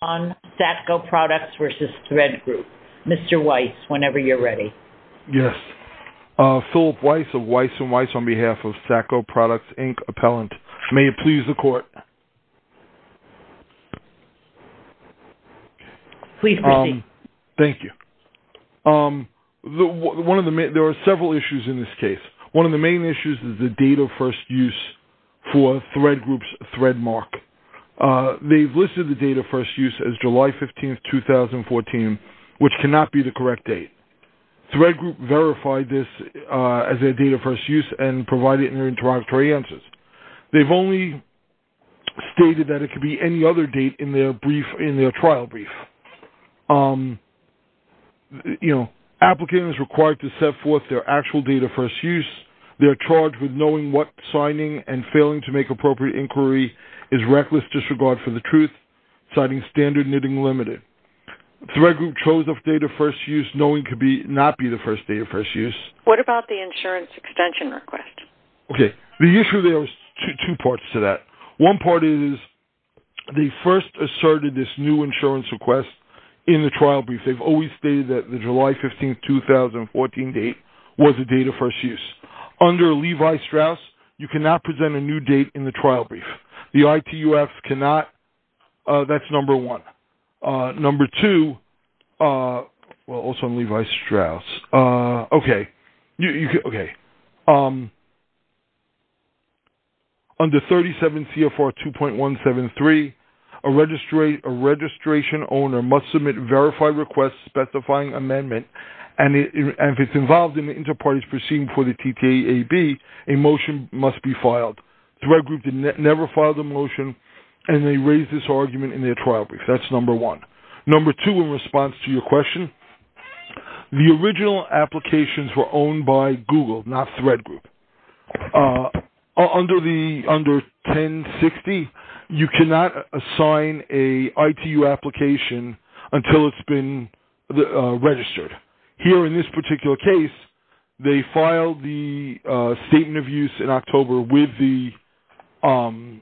on Satco Products v. Thread Group. Mr. Weiss, whenever you're ready. Yes. Philip Weiss of Weiss & Weiss on behalf of Satco Products, Inc. Appellant. May it please the Court. Please proceed. Thank you. There are several issues in this case. One of the main issues is the date of first use for Thread Group's Threadmark. They've listed the date of first use as July 15, 2014, which cannot be the correct date. Thread Group verified this as their date of first use and provided interoperatory answers. They've only stated that it could be any other date in their trial brief. Applicant is required to set forth their actual date of first use. They are charged with knowing what signing and failing to make appropriate inquiry is reckless disregard for the truth, citing standard knitting limited. Thread Group chose a date of first use knowing it could not be the first date of first use. What about the insurance extension request? Okay. The issue there is two parts to that. One part is they first asserted this new insurance request in the trial brief. They've always stated that the July 15, 2014 date was the date of first use. Under Levi-Strauss, you cannot present a new date in the trial brief. The ITUF cannot. That's number one. Number two, well, also Levi-Strauss. Okay. Under 37 CFR 2.173, a registration owner must submit verified request specifying amendment and if it's involved in the inter-parties proceeding for the TTAB, a motion must be filed. Thread Group never filed a motion and they raised this argument in their trial brief. That's number one. Number two, in response to your question, the original applications were owned by Google, not Thread Group. Under 1060, you cannot assign a ITU application until it's been registered. Here in this particular case, they filed the statement of use in October with the insurance.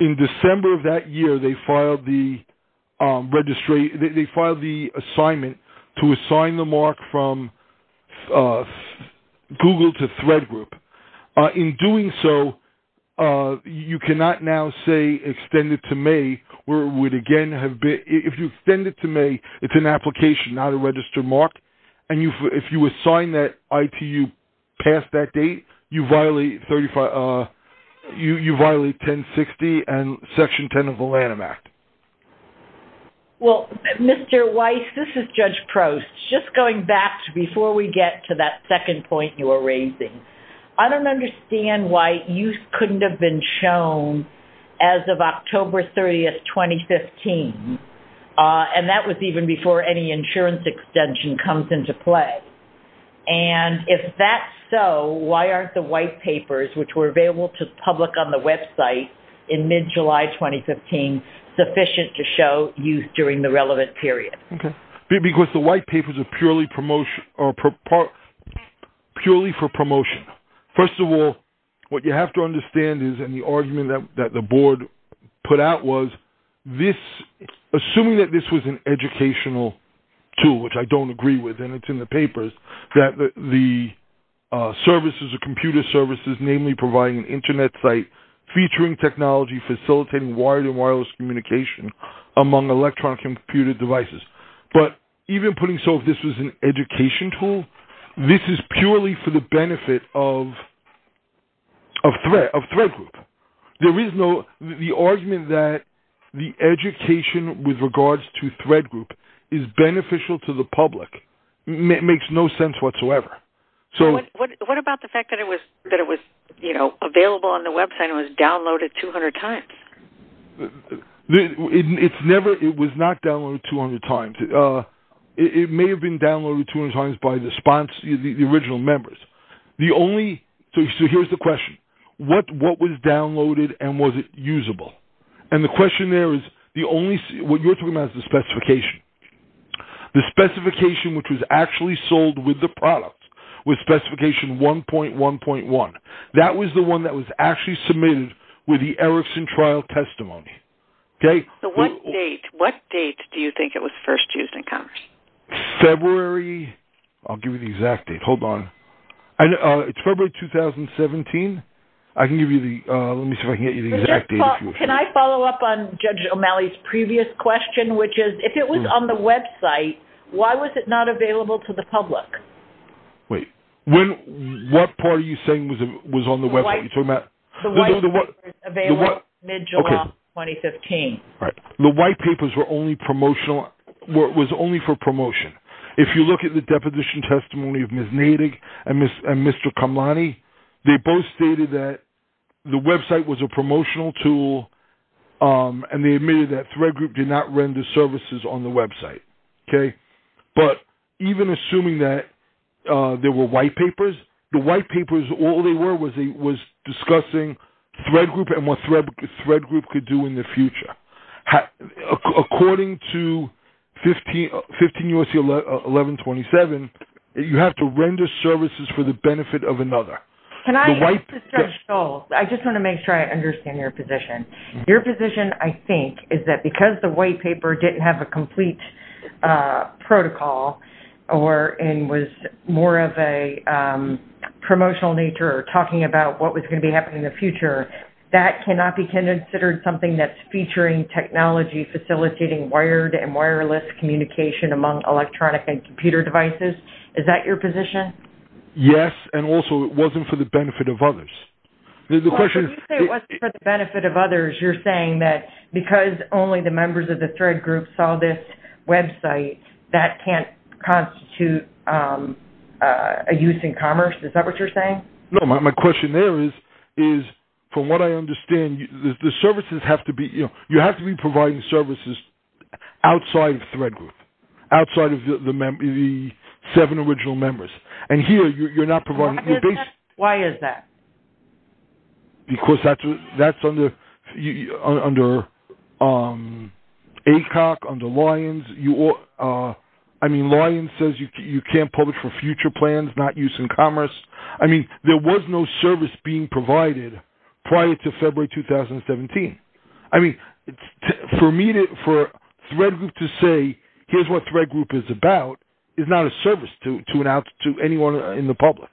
In December of that year, they filed the assignment to assign the mark from Google to Thread Group. In doing so, you cannot now say extend it to May where it would again if you extend it to May, it's an application, not a registered mark. If you assign that ITU past that date, you violate 1060 and Section 10 of the Lanham Act. Well, Mr. Weiss, this is Judge Prost. Just going back before we get to that second point you were talking about, the White Papers were available in mid-July 2015. That was even before any insurance extension comes into play. If that's so, why aren't the White Papers, which were available to the public on the website in mid-July 2015, sufficient to show use during the relevant period? Because the White Papers are purely for promotion. First of all, what you have to assume is that this was an educational tool, which I don't agree with, and it's in the papers, that the computer services, namely providing an internet site, featuring technology, facilitating wired and wireless communication among electronic and computer devices. But even putting this as an education tool, this is purely for the benefit of Thread Group. There is no argument that the education with regards to Thread Group is beneficial to the public. It makes no sense whatsoever. What about the fact that it was available on the website and was downloaded 200 times? It was not downloaded 200 times. It may have been downloaded 200 times by the original members. So here's the question. What was and was it usable? And the question there is, what you're talking about is the specification. The specification which was actually sold with the product, with specification 1.1.1, that was the one that was actually submitted with the Erickson trial testimony. What date do you think it was first used in Congress? February. I'll give you the exact date. Hold on. It's February 2017. I can give you the, let me see if I can get you the exact date. Can I follow up on Judge O'Malley's previous question, which is, if it was on the website, why was it not available to the public? Wait. What part are you saying was on the website? You're talking about? The white papers available mid-July 2015. Right. The white papers were only promotional, was only for promotion. If you look at the deposition testimony of Ms. Neidig and Mr. Kamlani, they both stated that the website was a promotional tool and they admitted that Thread Group did not render services on the website. Okay. But even assuming that there were white papers, the white papers, all they were was discussing Thread Group and what Thread Group could do in the future. According to 15 U.S.C. 1127, you have to render services for the benefit of another. Can I just make sure I understand your position? Your position, I think, is that because the white paper didn't have a complete protocol and was more of a promotional nature, talking about what was going to be happening in the future, that cannot be considered something that's featuring technology, facilitating wired and wireless communication among electronic and computer devices? Is that your position? Yes. And also, it wasn't for the benefit of others. The question is... When you say it wasn't for the benefit of others, you're saying that because only the members of the Thread Group saw this website, that can't constitute a use in commerce? Is that what you're saying? No. My question there is, from what I understand, the services have to be... You have to be providing services outside of Thread Group, outside of the seven original members. And here, you're not providing... Why is that? Because that's under ACOC, under Lions. I mean, Lions says you can't publish for future plans, not use in commerce. I mean, there was no service being provided prior to February 2017. I mean, for Thread Group to say, here's what Thread Group is about, is not a service to anyone in the public.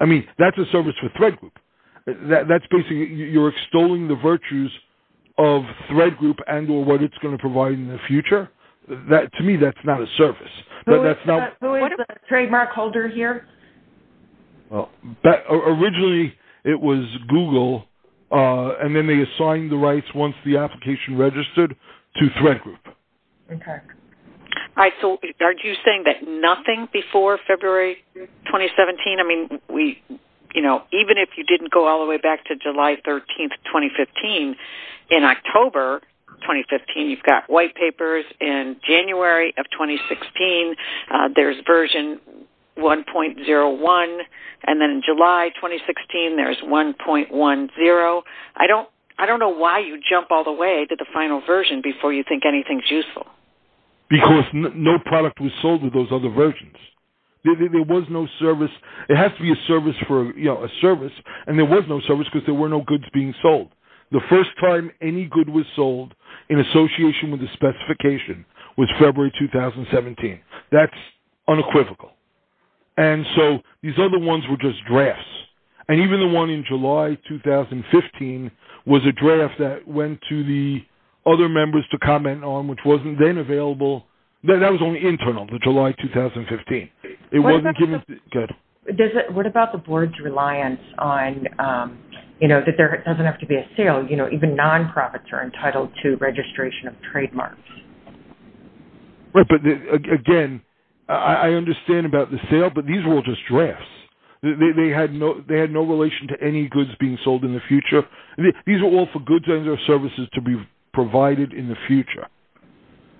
I mean, that's a service for Thread Group. That's basically... You're extolling the virtues of Thread Group and what it's going to provide in the future. To me, that's not a service. Who is the trademark holder here? Originally, it was Google, and then they assigned the rights once the application registered to Thread Group. Okay. Are you saying that nothing before February 2017? I mean, even if you didn't go all the way back to July 13th, 2015, in October 2015, you've got white papers. In January of 2016, there's version 1.01. And then in July 2016, there's 1.10. I don't know why you jump all the way to the final version before you think anything's useful. Because no product was sold with those other versions. There was no service. It has to be a service, and there was no service because there were no goods being sold. The first time any good was sold in association with the specification was February 2017. That's unequivocal. And so, these other ones were just drafts. And even the one in July 2015 was a draft that went to the other members to comment on, which wasn't then available. That was only internal, the July 2015. It wasn't given... Go ahead. What about the board's reliance on, you know, that there doesn't have to be a sale? You know, even non-profits are entitled to registration of trademarks. Right. But again, I understand about the sale, but these were all just drafts. They had no relation to any goods being sold in the future. These were all for goods and services to be provided in the future.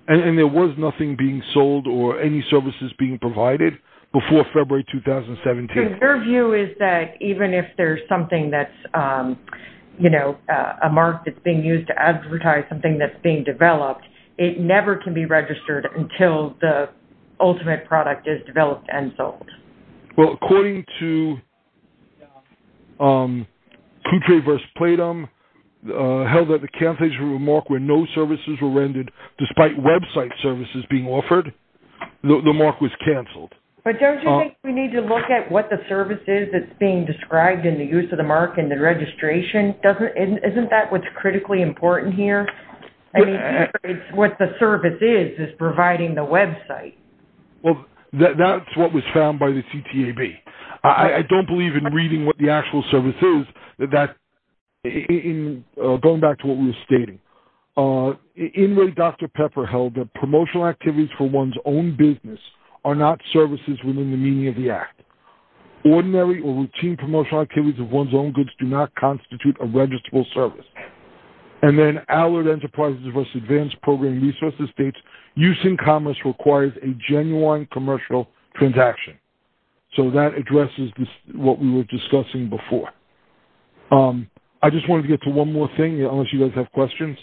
And there was nothing being sold or any services being provided before February 2017. So, your view is that even if there's something that's, you know, a mark that's being used to advertise something that's being developed, it never can be registered until the ultimate product is developed and sold? Well, according to Coutre v. Platum held that the cancellation of a mark where no services were rendered despite website services being offered, the mark was canceled. But don't you think we need to look at what the service is that's being described in the use of the mark and the registration? Isn't that what's critically important here? I mean, what the service is, is providing the website. Well, that's what was found by the CTAB. I don't believe in reading what the actual service is. Going back to what we were stating, in what Dr. Pepper held, the promotional activities for one's own business are not services within the meaning of the act. Ordinary or routine promotional activities of one's own service. And then Allard Enterprises v. Advanced Programming Resources states, use in commerce requires a genuine commercial transaction. So, that addresses what we were discussing before. I just wanted to get to one more thing unless you guys have questions.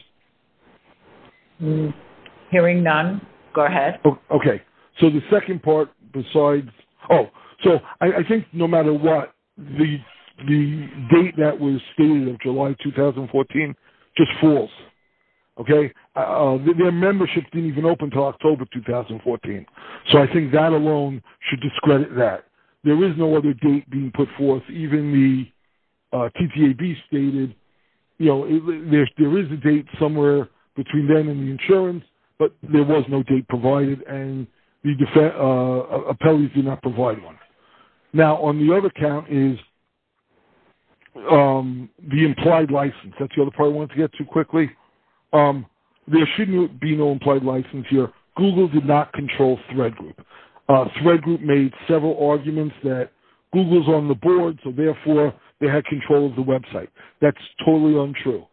Hearing none, go ahead. Okay. So, the second part besides, oh, so I think no matter what, the date that was stated in July 2014 just falls. Okay. Their membership didn't even open until October 2014. So, I think that alone should discredit that. There is no other date being put forth. Even the CTAB stated, you know, there is a date somewhere between then and the insurance, but there was no date provided and the appellees did not provide one. Now, on the other count is the implied license. That's the other part I wanted to get to quickly. There shouldn't be no implied license here. Google did not control Thread Group. Thread Group made several arguments that Google's on the board, so therefore, they had control of the website. That's totally untrue.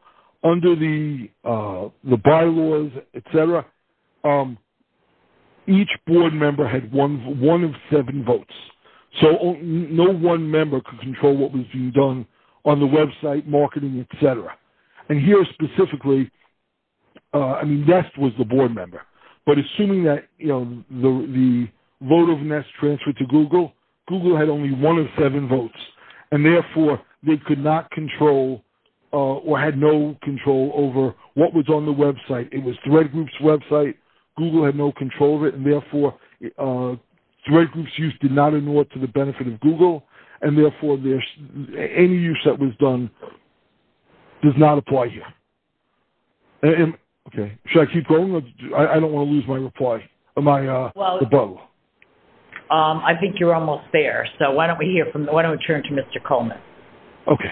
Under the bylaws, et cetera, each board member had one of seven votes. So, no one member could control what was being done on the website, marketing, et cetera. And here specifically, I mean, Nest was the board member, but assuming that, you know, the vote of Nest transferred to Google, Google had only one of seven votes, and therefore, they could not control or had no control over what was on the website. It was Thread Group's website. Google had no control of it, and therefore, Thread Group's use did not ignore it to the benefit of Google, and therefore, any use that was done does not apply here. Okay. Should I keep going? I don't want to lose my reply. I think you're almost there, so why don't we hear from, why don't we turn to Mr. Coleman? Okay.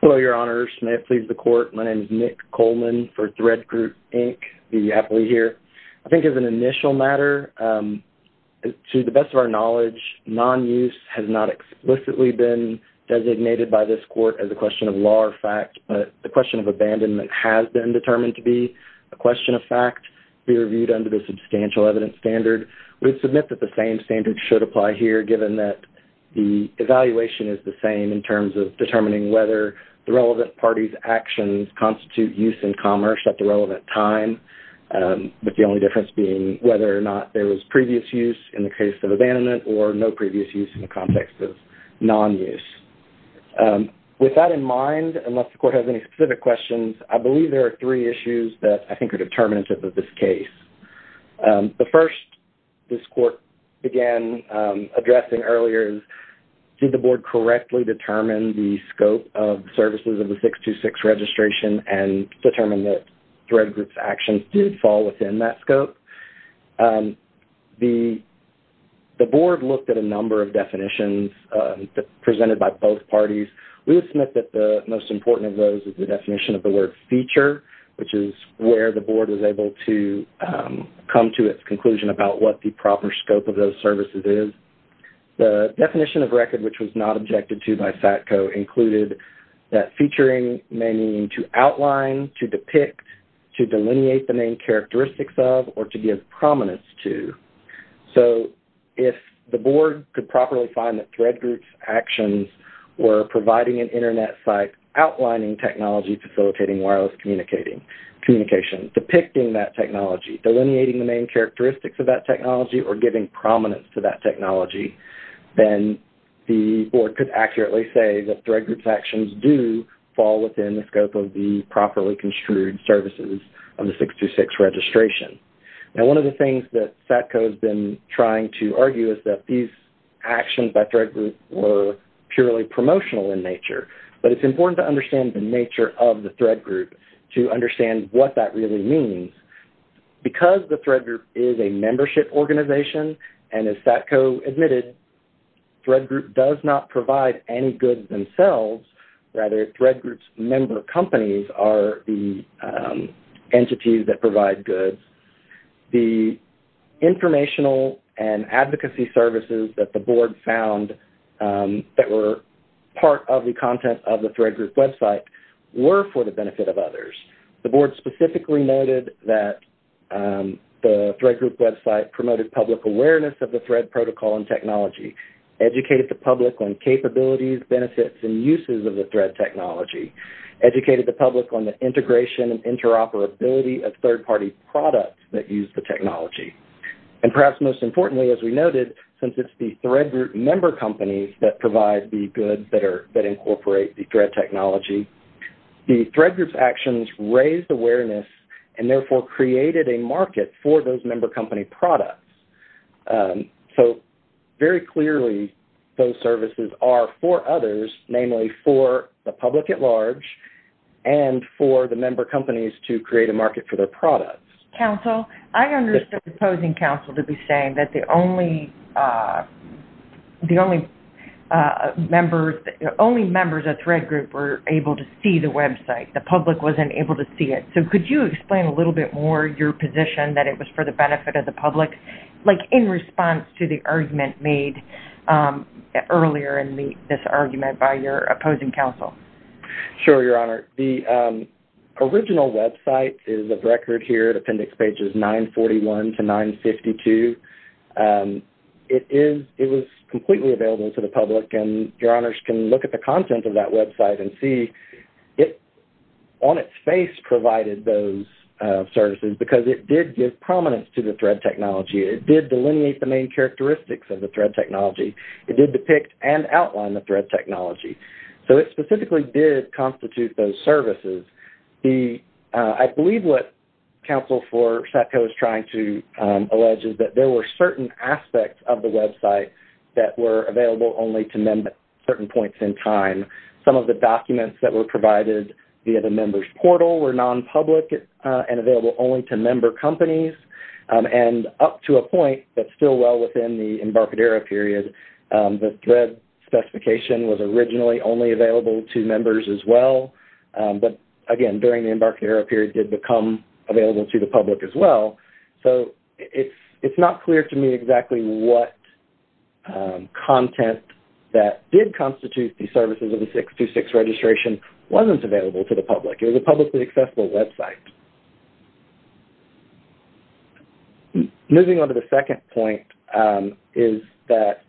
Hello, Your Honors. May it please the Court. My name is Nick Coleman for Thread Group, Inc. Be happy to be here. I think as an initial matter, to the best of our knowledge, non-use has not explicitly been designated by this Court as a question of law or fact, but the question of abandonment has been determined to be a question of fact. We view it under the substantial evidence standard. We submit that the same standard should apply here given that the evaluation is the same in terms of determining whether the relevant party's actions constitute use in commerce at the relevant time, but the only difference being whether or not there was previous use in the case of abandonment or no previous use in the context of non-use. With that in mind, unless the Court has any specific questions, I believe there are three cases. The first this Court began addressing earlier is, did the Board correctly determine the scope of services of the 626 registration and determine that Thread Group's actions did fall within that scope? The Board looked at a number of definitions presented by both parties. We submit that the most important of those is the definition of the word feature, which is where the Board was able to come to its conclusion about what the proper scope of those services is. The definition of record, which was not objected to by FATCO, included that featuring may mean to outline, to depict, to delineate the main characteristics of, or to give prominence to. So if the Board could properly find that Thread Group's actions were providing an Internet site, outlining technology, facilitating wireless communication, depicting that technology, delineating the main characteristics of that technology, or giving prominence to that technology, then the Board could accurately say that Thread Group's actions do fall within the scope of the properly construed services of the 626 registration. One of the things that FATCO has been trying to argue is that these actions by Thread Group were purely promotional in nature, but it's important to understand the nature of the Thread Group to understand what that really means. Because the Thread Group is a membership organization, and as FATCO admitted, Thread Group does not provide any goods themselves. Rather, Thread Group's member companies are the entities that provide goods. The informational and advocacy services that the Board found that were part of the content of the Thread Group website were for the benefit of others. The Board specifically noted that the Thread Group website promoted public awareness of the Thread protocol and technology, educated the public on capabilities, benefits, and uses of the Thread technology, educated the public on the integration and interoperability of third-party products that use the technology. And perhaps most importantly, as we noted, since it's the Thread Group member companies that provide the goods that incorporate the Thread technology, the Thread Group's actions raised awareness and therefore created a market for those member company products. So very clearly, those services are for others, namely for the public at large, and for the member companies to create a market for their products. Counsel, I understood the opposing counsel to be saying that the only members of Thread Group were able to see the website. The public wasn't able to see it. So could you explain a little bit more your position that it was for the benefit of the public, like in response to the argument made earlier in this argument by your opposing counsel? Sure, Your Honor. The original website is a record here at appendix pages 941 to 952. It was completely available to the public, and Your Honors can look at the content of that website and see it on its face provided those services because it did give prominence to the Thread technology. It did delineate the main characteristics of the Thread technology. It did depict and outline the Thread technology. So it specifically did constitute those services. I believe what counsel for Satco is trying to allege is that there were certain aspects of the website that were available only to certain points in time. Some of the documents that were and up to a point that's still well within the Embarcadero period, the Thread specification was originally only available to members as well. But again, during the Embarcadero period did become available to the public as well. So it's not clear to me exactly what content that did constitute the services of the 626 registration wasn't available to the public. It was a publicly accessible website. Moving on to the second point is that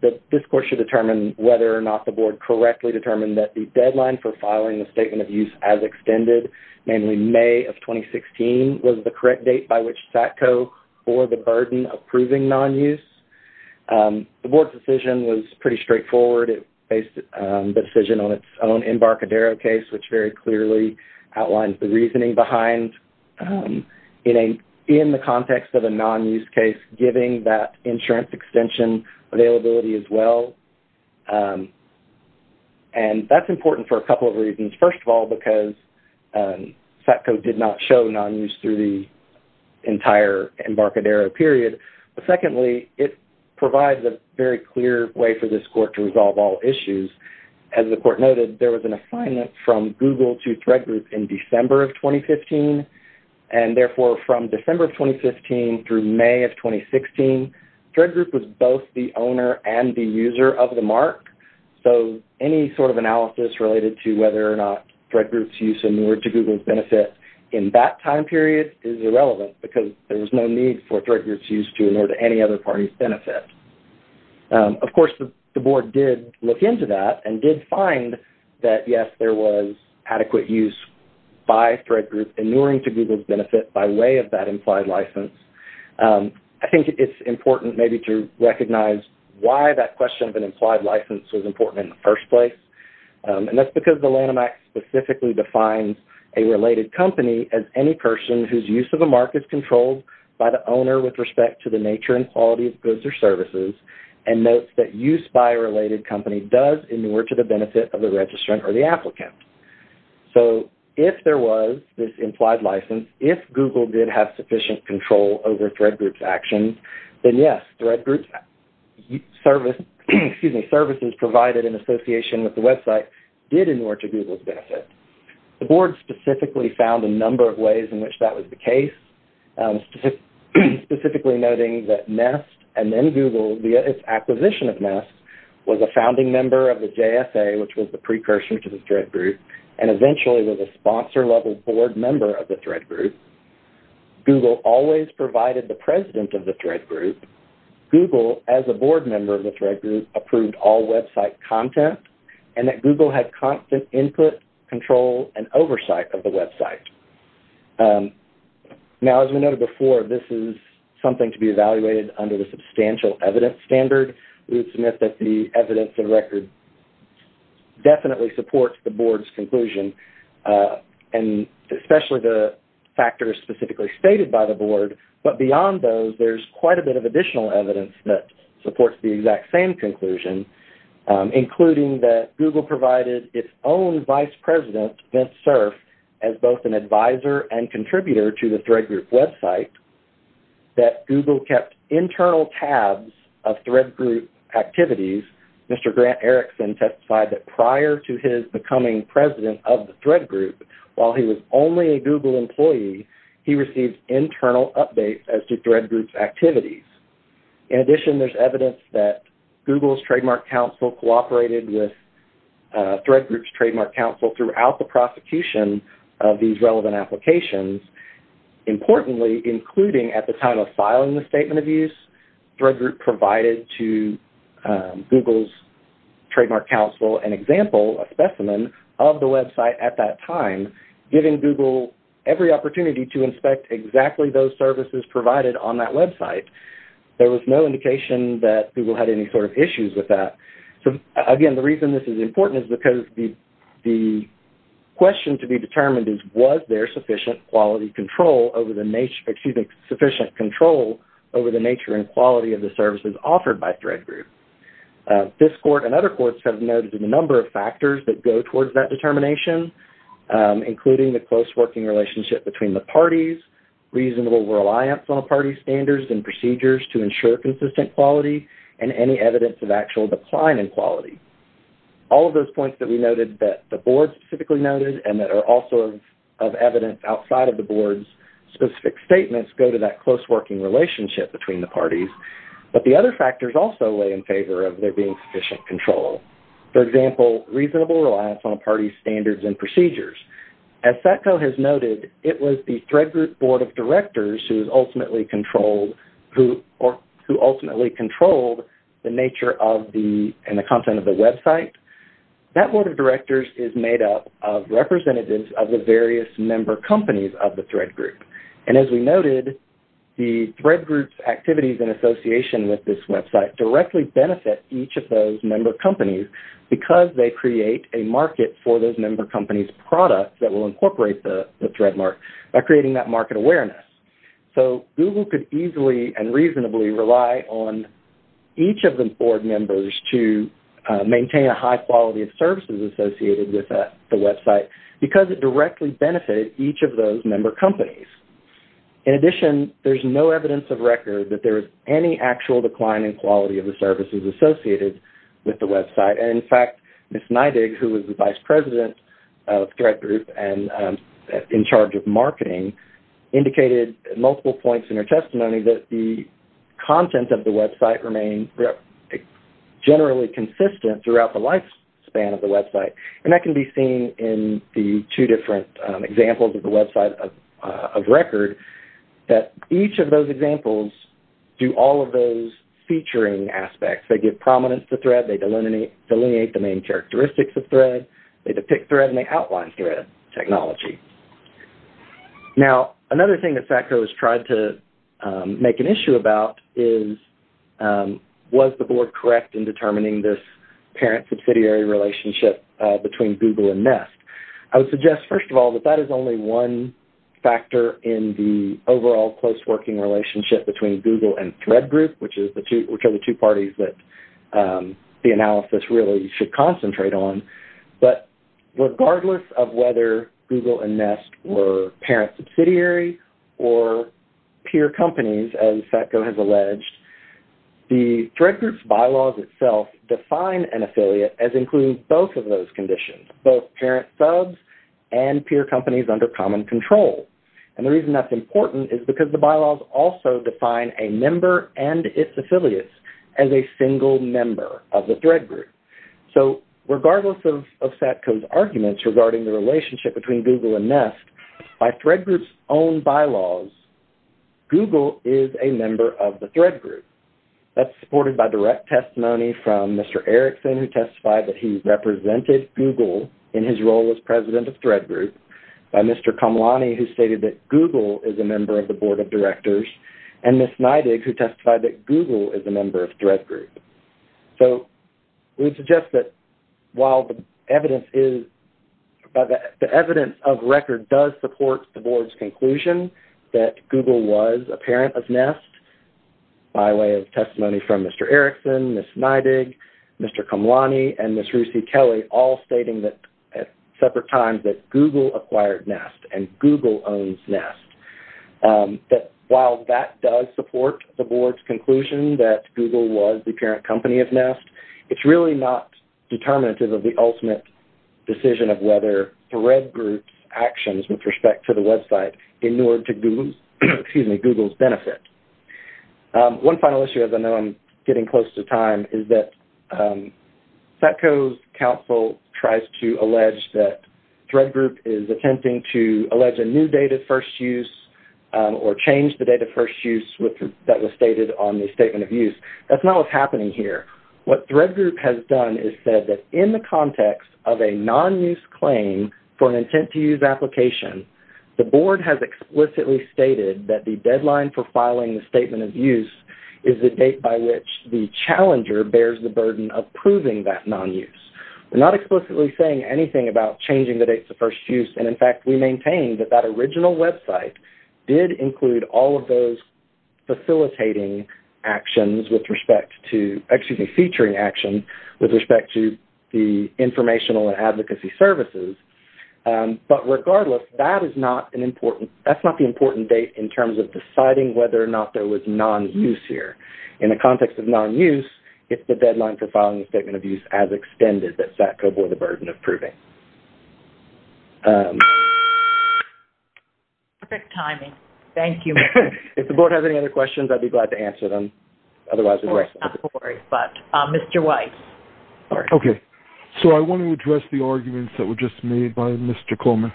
this course should determine whether or not the Board correctly determined that the deadline for filing the Statement of Use as Extended, namely May of 2016, was the correct date by which Satco bore the burden of proving non-use. The Board's decision was pretty straightforward. It based the decision on its own Embarcadero case, which very clearly outlines the reasoning behind in the context of a non-use case, giving that insurance extension availability as well. And that's important for a couple of reasons. First of all, because Satco did not show non-use through the entire Embarcadero period. But secondly, it provides a very clear way for this court to resolve all issues. As the court noted, there was an assignment from Google to Thread Group in December of 2015. And therefore, from December of 2015 through May of 2016, Thread Group was both the owner and the user of the mark. So any sort of analysis related to whether or not Thread Group's use in order to Google's benefit in that time period is irrelevant because there was no need for Thread Group's use to in order to any other party's benefit. Of course, the Board did look into that and did find that, yes, there was adequate use by Thread Group inuring to Google's benefit by way of that implied license. I think it's important maybe to recognize why that question of an implied license was important in the first place. And that's because the Lanham Act specifically defines a related company as any person whose use of a mark is controlled by the owner with respect to the nature and quality of goods or services and notes that use by a related company does in order to the benefit of the registrant or the applicant. So if there was this implied license, if Google did have sufficient control over Thread Group's actions, then yes, Thread Group's service, excuse me, services provided in association with the website did in order to Google's benefit. The Board specifically found a number of ways in which that was the case, specifically noting that Nest and then Google via its acquisition of Nest was a founding member of the JFA, which was the precursor to the Thread Group, and eventually was a sponsor-level Board member of the Thread Group. Google always provided the president of the Thread Group. Google as a Board member of the Thread Group approved all website content and that Google had constant input, control, and oversight of the website. Now, as we noted before, this is something to be evaluated under the substantial evidence standard. We would submit that the evidence and record definitely supports the Board's conclusion and especially the factors specifically stated by the Board. But beyond those, there's quite a bit of additional evidence that its own vice president, Vince Cerf, as both an advisor and contributor to the Thread Group website, that Google kept internal tabs of Thread Group activities. Mr. Grant Erickson testified that prior to his becoming president of the Thread Group, while he was only a Google employee, he received internal updates as to Thread Group's activities. In addition, there's evidence that Thread Group's trademark counsel throughout the prosecution of these relevant applications, importantly, including at the time of filing the statement of use, Thread Group provided to Google's trademark counsel an example, a specimen, of the website at that time, giving Google every opportunity to inspect exactly those services provided on that website. There was no indication that Google had any sort of issues with that. So, again, the reason this is important is because the question to be determined is, was there sufficient quality control over the nature and quality of the services offered by Thread Group? This court and other courts have noted a number of factors that go towards that determination, including the close working relationship between the parties, reasonable reliance on party standards and procedures to ensure consistent quality, and any evidence of actual decline in quality. All of those points that we noted that the board specifically noted and that are also of evidence outside of the board's specific statements go to that close working relationship between the parties. But the other factors also lay in favor of there being sufficient control. For example, reasonable reliance on party standards and procedures. As Satco has noted, it was the Thread Group Board of Directors who ultimately controlled the nature and the content of the website. That Board of Directors is made up of representatives of the various member companies of the Thread Group. And as we noted, the Thread Group's activities in association with this website directly benefit each of those member companies because they create a market for those member companies' products that will incorporate the Threadmark by creating that market awareness. So, Google could easily and reasonably rely on each of the board members to maintain a high quality of services associated with the website because it directly benefited each of those member companies. In addition, there's no evidence of record that there is any actual decline in quality of the services associated with the website. And in fact, Ms. Neidig, who was the multiple points in her testimony, that the content of the website remained generally consistent throughout the lifespan of the website. And that can be seen in the two different examples of the website of record that each of those examples do all of those featuring aspects. They give prominence to Thread. They delineate the main characteristics of Thread. They depict Thread and they outline Thread technology. Now, another thing that SACCO has tried to make an issue about is, was the board correct in determining this parent subsidiary relationship between Google and Nest? I would suggest, first of all, that that is only one factor in the overall close working relationship between Google and Thread Group, which are the two parties that the analysis really should concentrate on. But regardless of whether Google and Nest were parent subsidiary or peer companies, as SACCO has alleged, the Thread Groups bylaws itself define an affiliate as including both of those conditions, both parent subs and peer companies under common control. And the reason that's important is because the bylaws also define a member and its affiliates as a single member of Thread Group. So, regardless of SACCO's arguments regarding the relationship between Google and Nest, by Thread Group's own bylaws, Google is a member of the Thread Group. That's supported by direct testimony from Mr. Erickson, who testified that he represented Google in his role as president of Thread Group, by Mr. Kamalani, who stated that Google is a member of the board of directors, and Ms. Neidig, who testified that Google is a member of Thread Group. So, we suggest that while the evidence of record does support the board's conclusion that Google was a parent of Nest, by way of testimony from Mr. Erickson, Ms. Neidig, Mr. Kamalani, and Ms. Rucy Kelly, all stating that at separate times that Google acquired Nest and Google owns Nest, that while that does support the board's conclusion that Google was the parent company of Nest, it's really not determinative of the ultimate decision of whether Thread Group's actions with respect to the website in order to Google's benefit. One final issue, as I know I'm getting close to time, is that SACCO's counsel tries to allege that Thread Group is attempting to allege a new date of first use, or change the date of first use that was stated on the Statement of Use. That's not what's happening here. What Thread Group has done is said that in the context of a non-use claim for an intent-to-use application, the board has explicitly stated that the deadline for filing the Statement of Use is the date by which the challenger bears the burden of proving that non-use. We're not explicitly saying anything about changing the dates of first use, and in fact, we maintain that that original website did include all of those facilitating actions with respect to, excuse me, featuring actions with respect to the informational and advocacy services. But regardless, that's not the important date in terms of deciding whether or not there was non-use here. In the context of non-use, it's the deadline for filing the Statement of Use as extended that SACCO bore the burden of proving. Perfect timing. Thank you. If the board has any other questions, I'd be glad to answer them. Of course, not to worry. But Mr. Weiss. Okay. So I want to address the arguments that were just made by Mr. Coleman.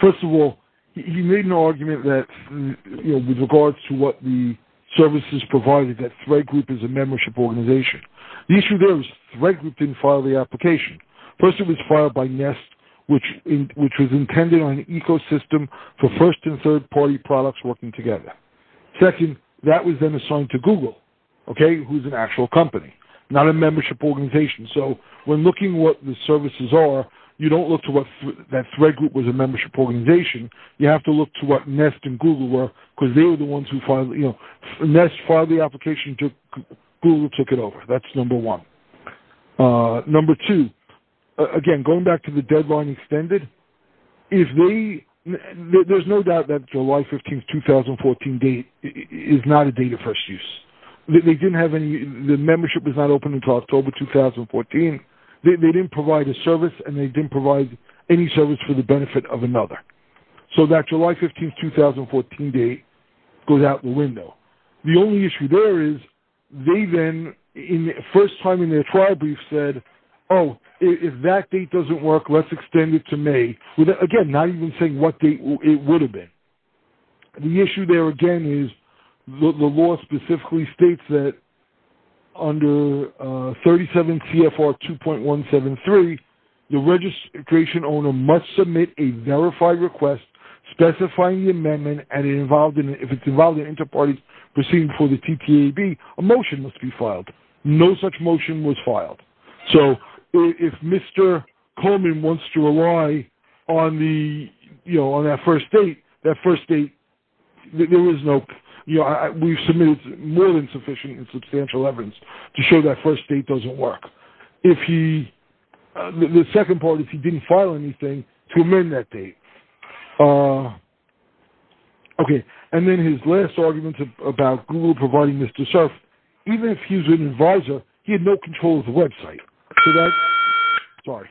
First of all, he made an argument that with regards to what the services provided that Thread Group is a application. First, it was filed by Nest, which was intended on an ecosystem for first and third party products working together. Second, that was then assigned to Google, okay, who's an actual company, not a membership organization. So when looking at what the services are, you don't look to what that Thread Group was a membership organization. You have to look to what Nest and Google were because they were the ones who filed, you know, Nest filed the application to Google and took it over. That's number one. Number two, again, going back to the deadline extended, there's no doubt that July 15, 2014 date is not a date of first use. The membership was not open until October 2014. They didn't provide a service and they didn't provide any service for the benefit of another. So that July 15, 2014 date goes out the window. The only issue there is they then in the first time in their trial brief said, oh, if that date doesn't work, let's extend it to May. Again, not even saying what date it would have been. The issue there again is the law specifically states that under 37 CFR 2.173, the registration owner must submit a verified request specifying the amendment and if it's involved in inter-party proceedings for the TTAB, a motion must be filed. No such motion was filed. So if Mr. Coleman wants to rely on the, you know, on that first date, that first date, there is no, you know, we've submitted more than sufficient and substantial evidence to show that first date doesn't work. If he, the second part is he didn't file anything to amend that date. Okay. And then his last argument about Google providing Mr. Cerf, even if he's an advisor, he had no control of the website. So that, sorry,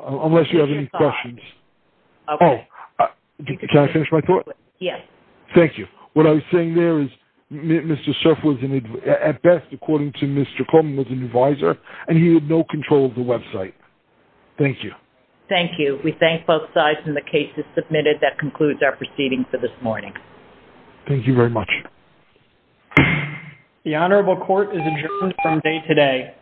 unless you have any questions. Oh, can I finish my thought? Yes. Thank you. What I was saying there is Mr. Cerf at best according to Mr. Coleman was an advisor and he had no control of the website. Thank you. Thank you. We thank both sides and the case is submitted. That concludes our proceeding for this morning. Thank you very much. The honorable court is adjourned from day today.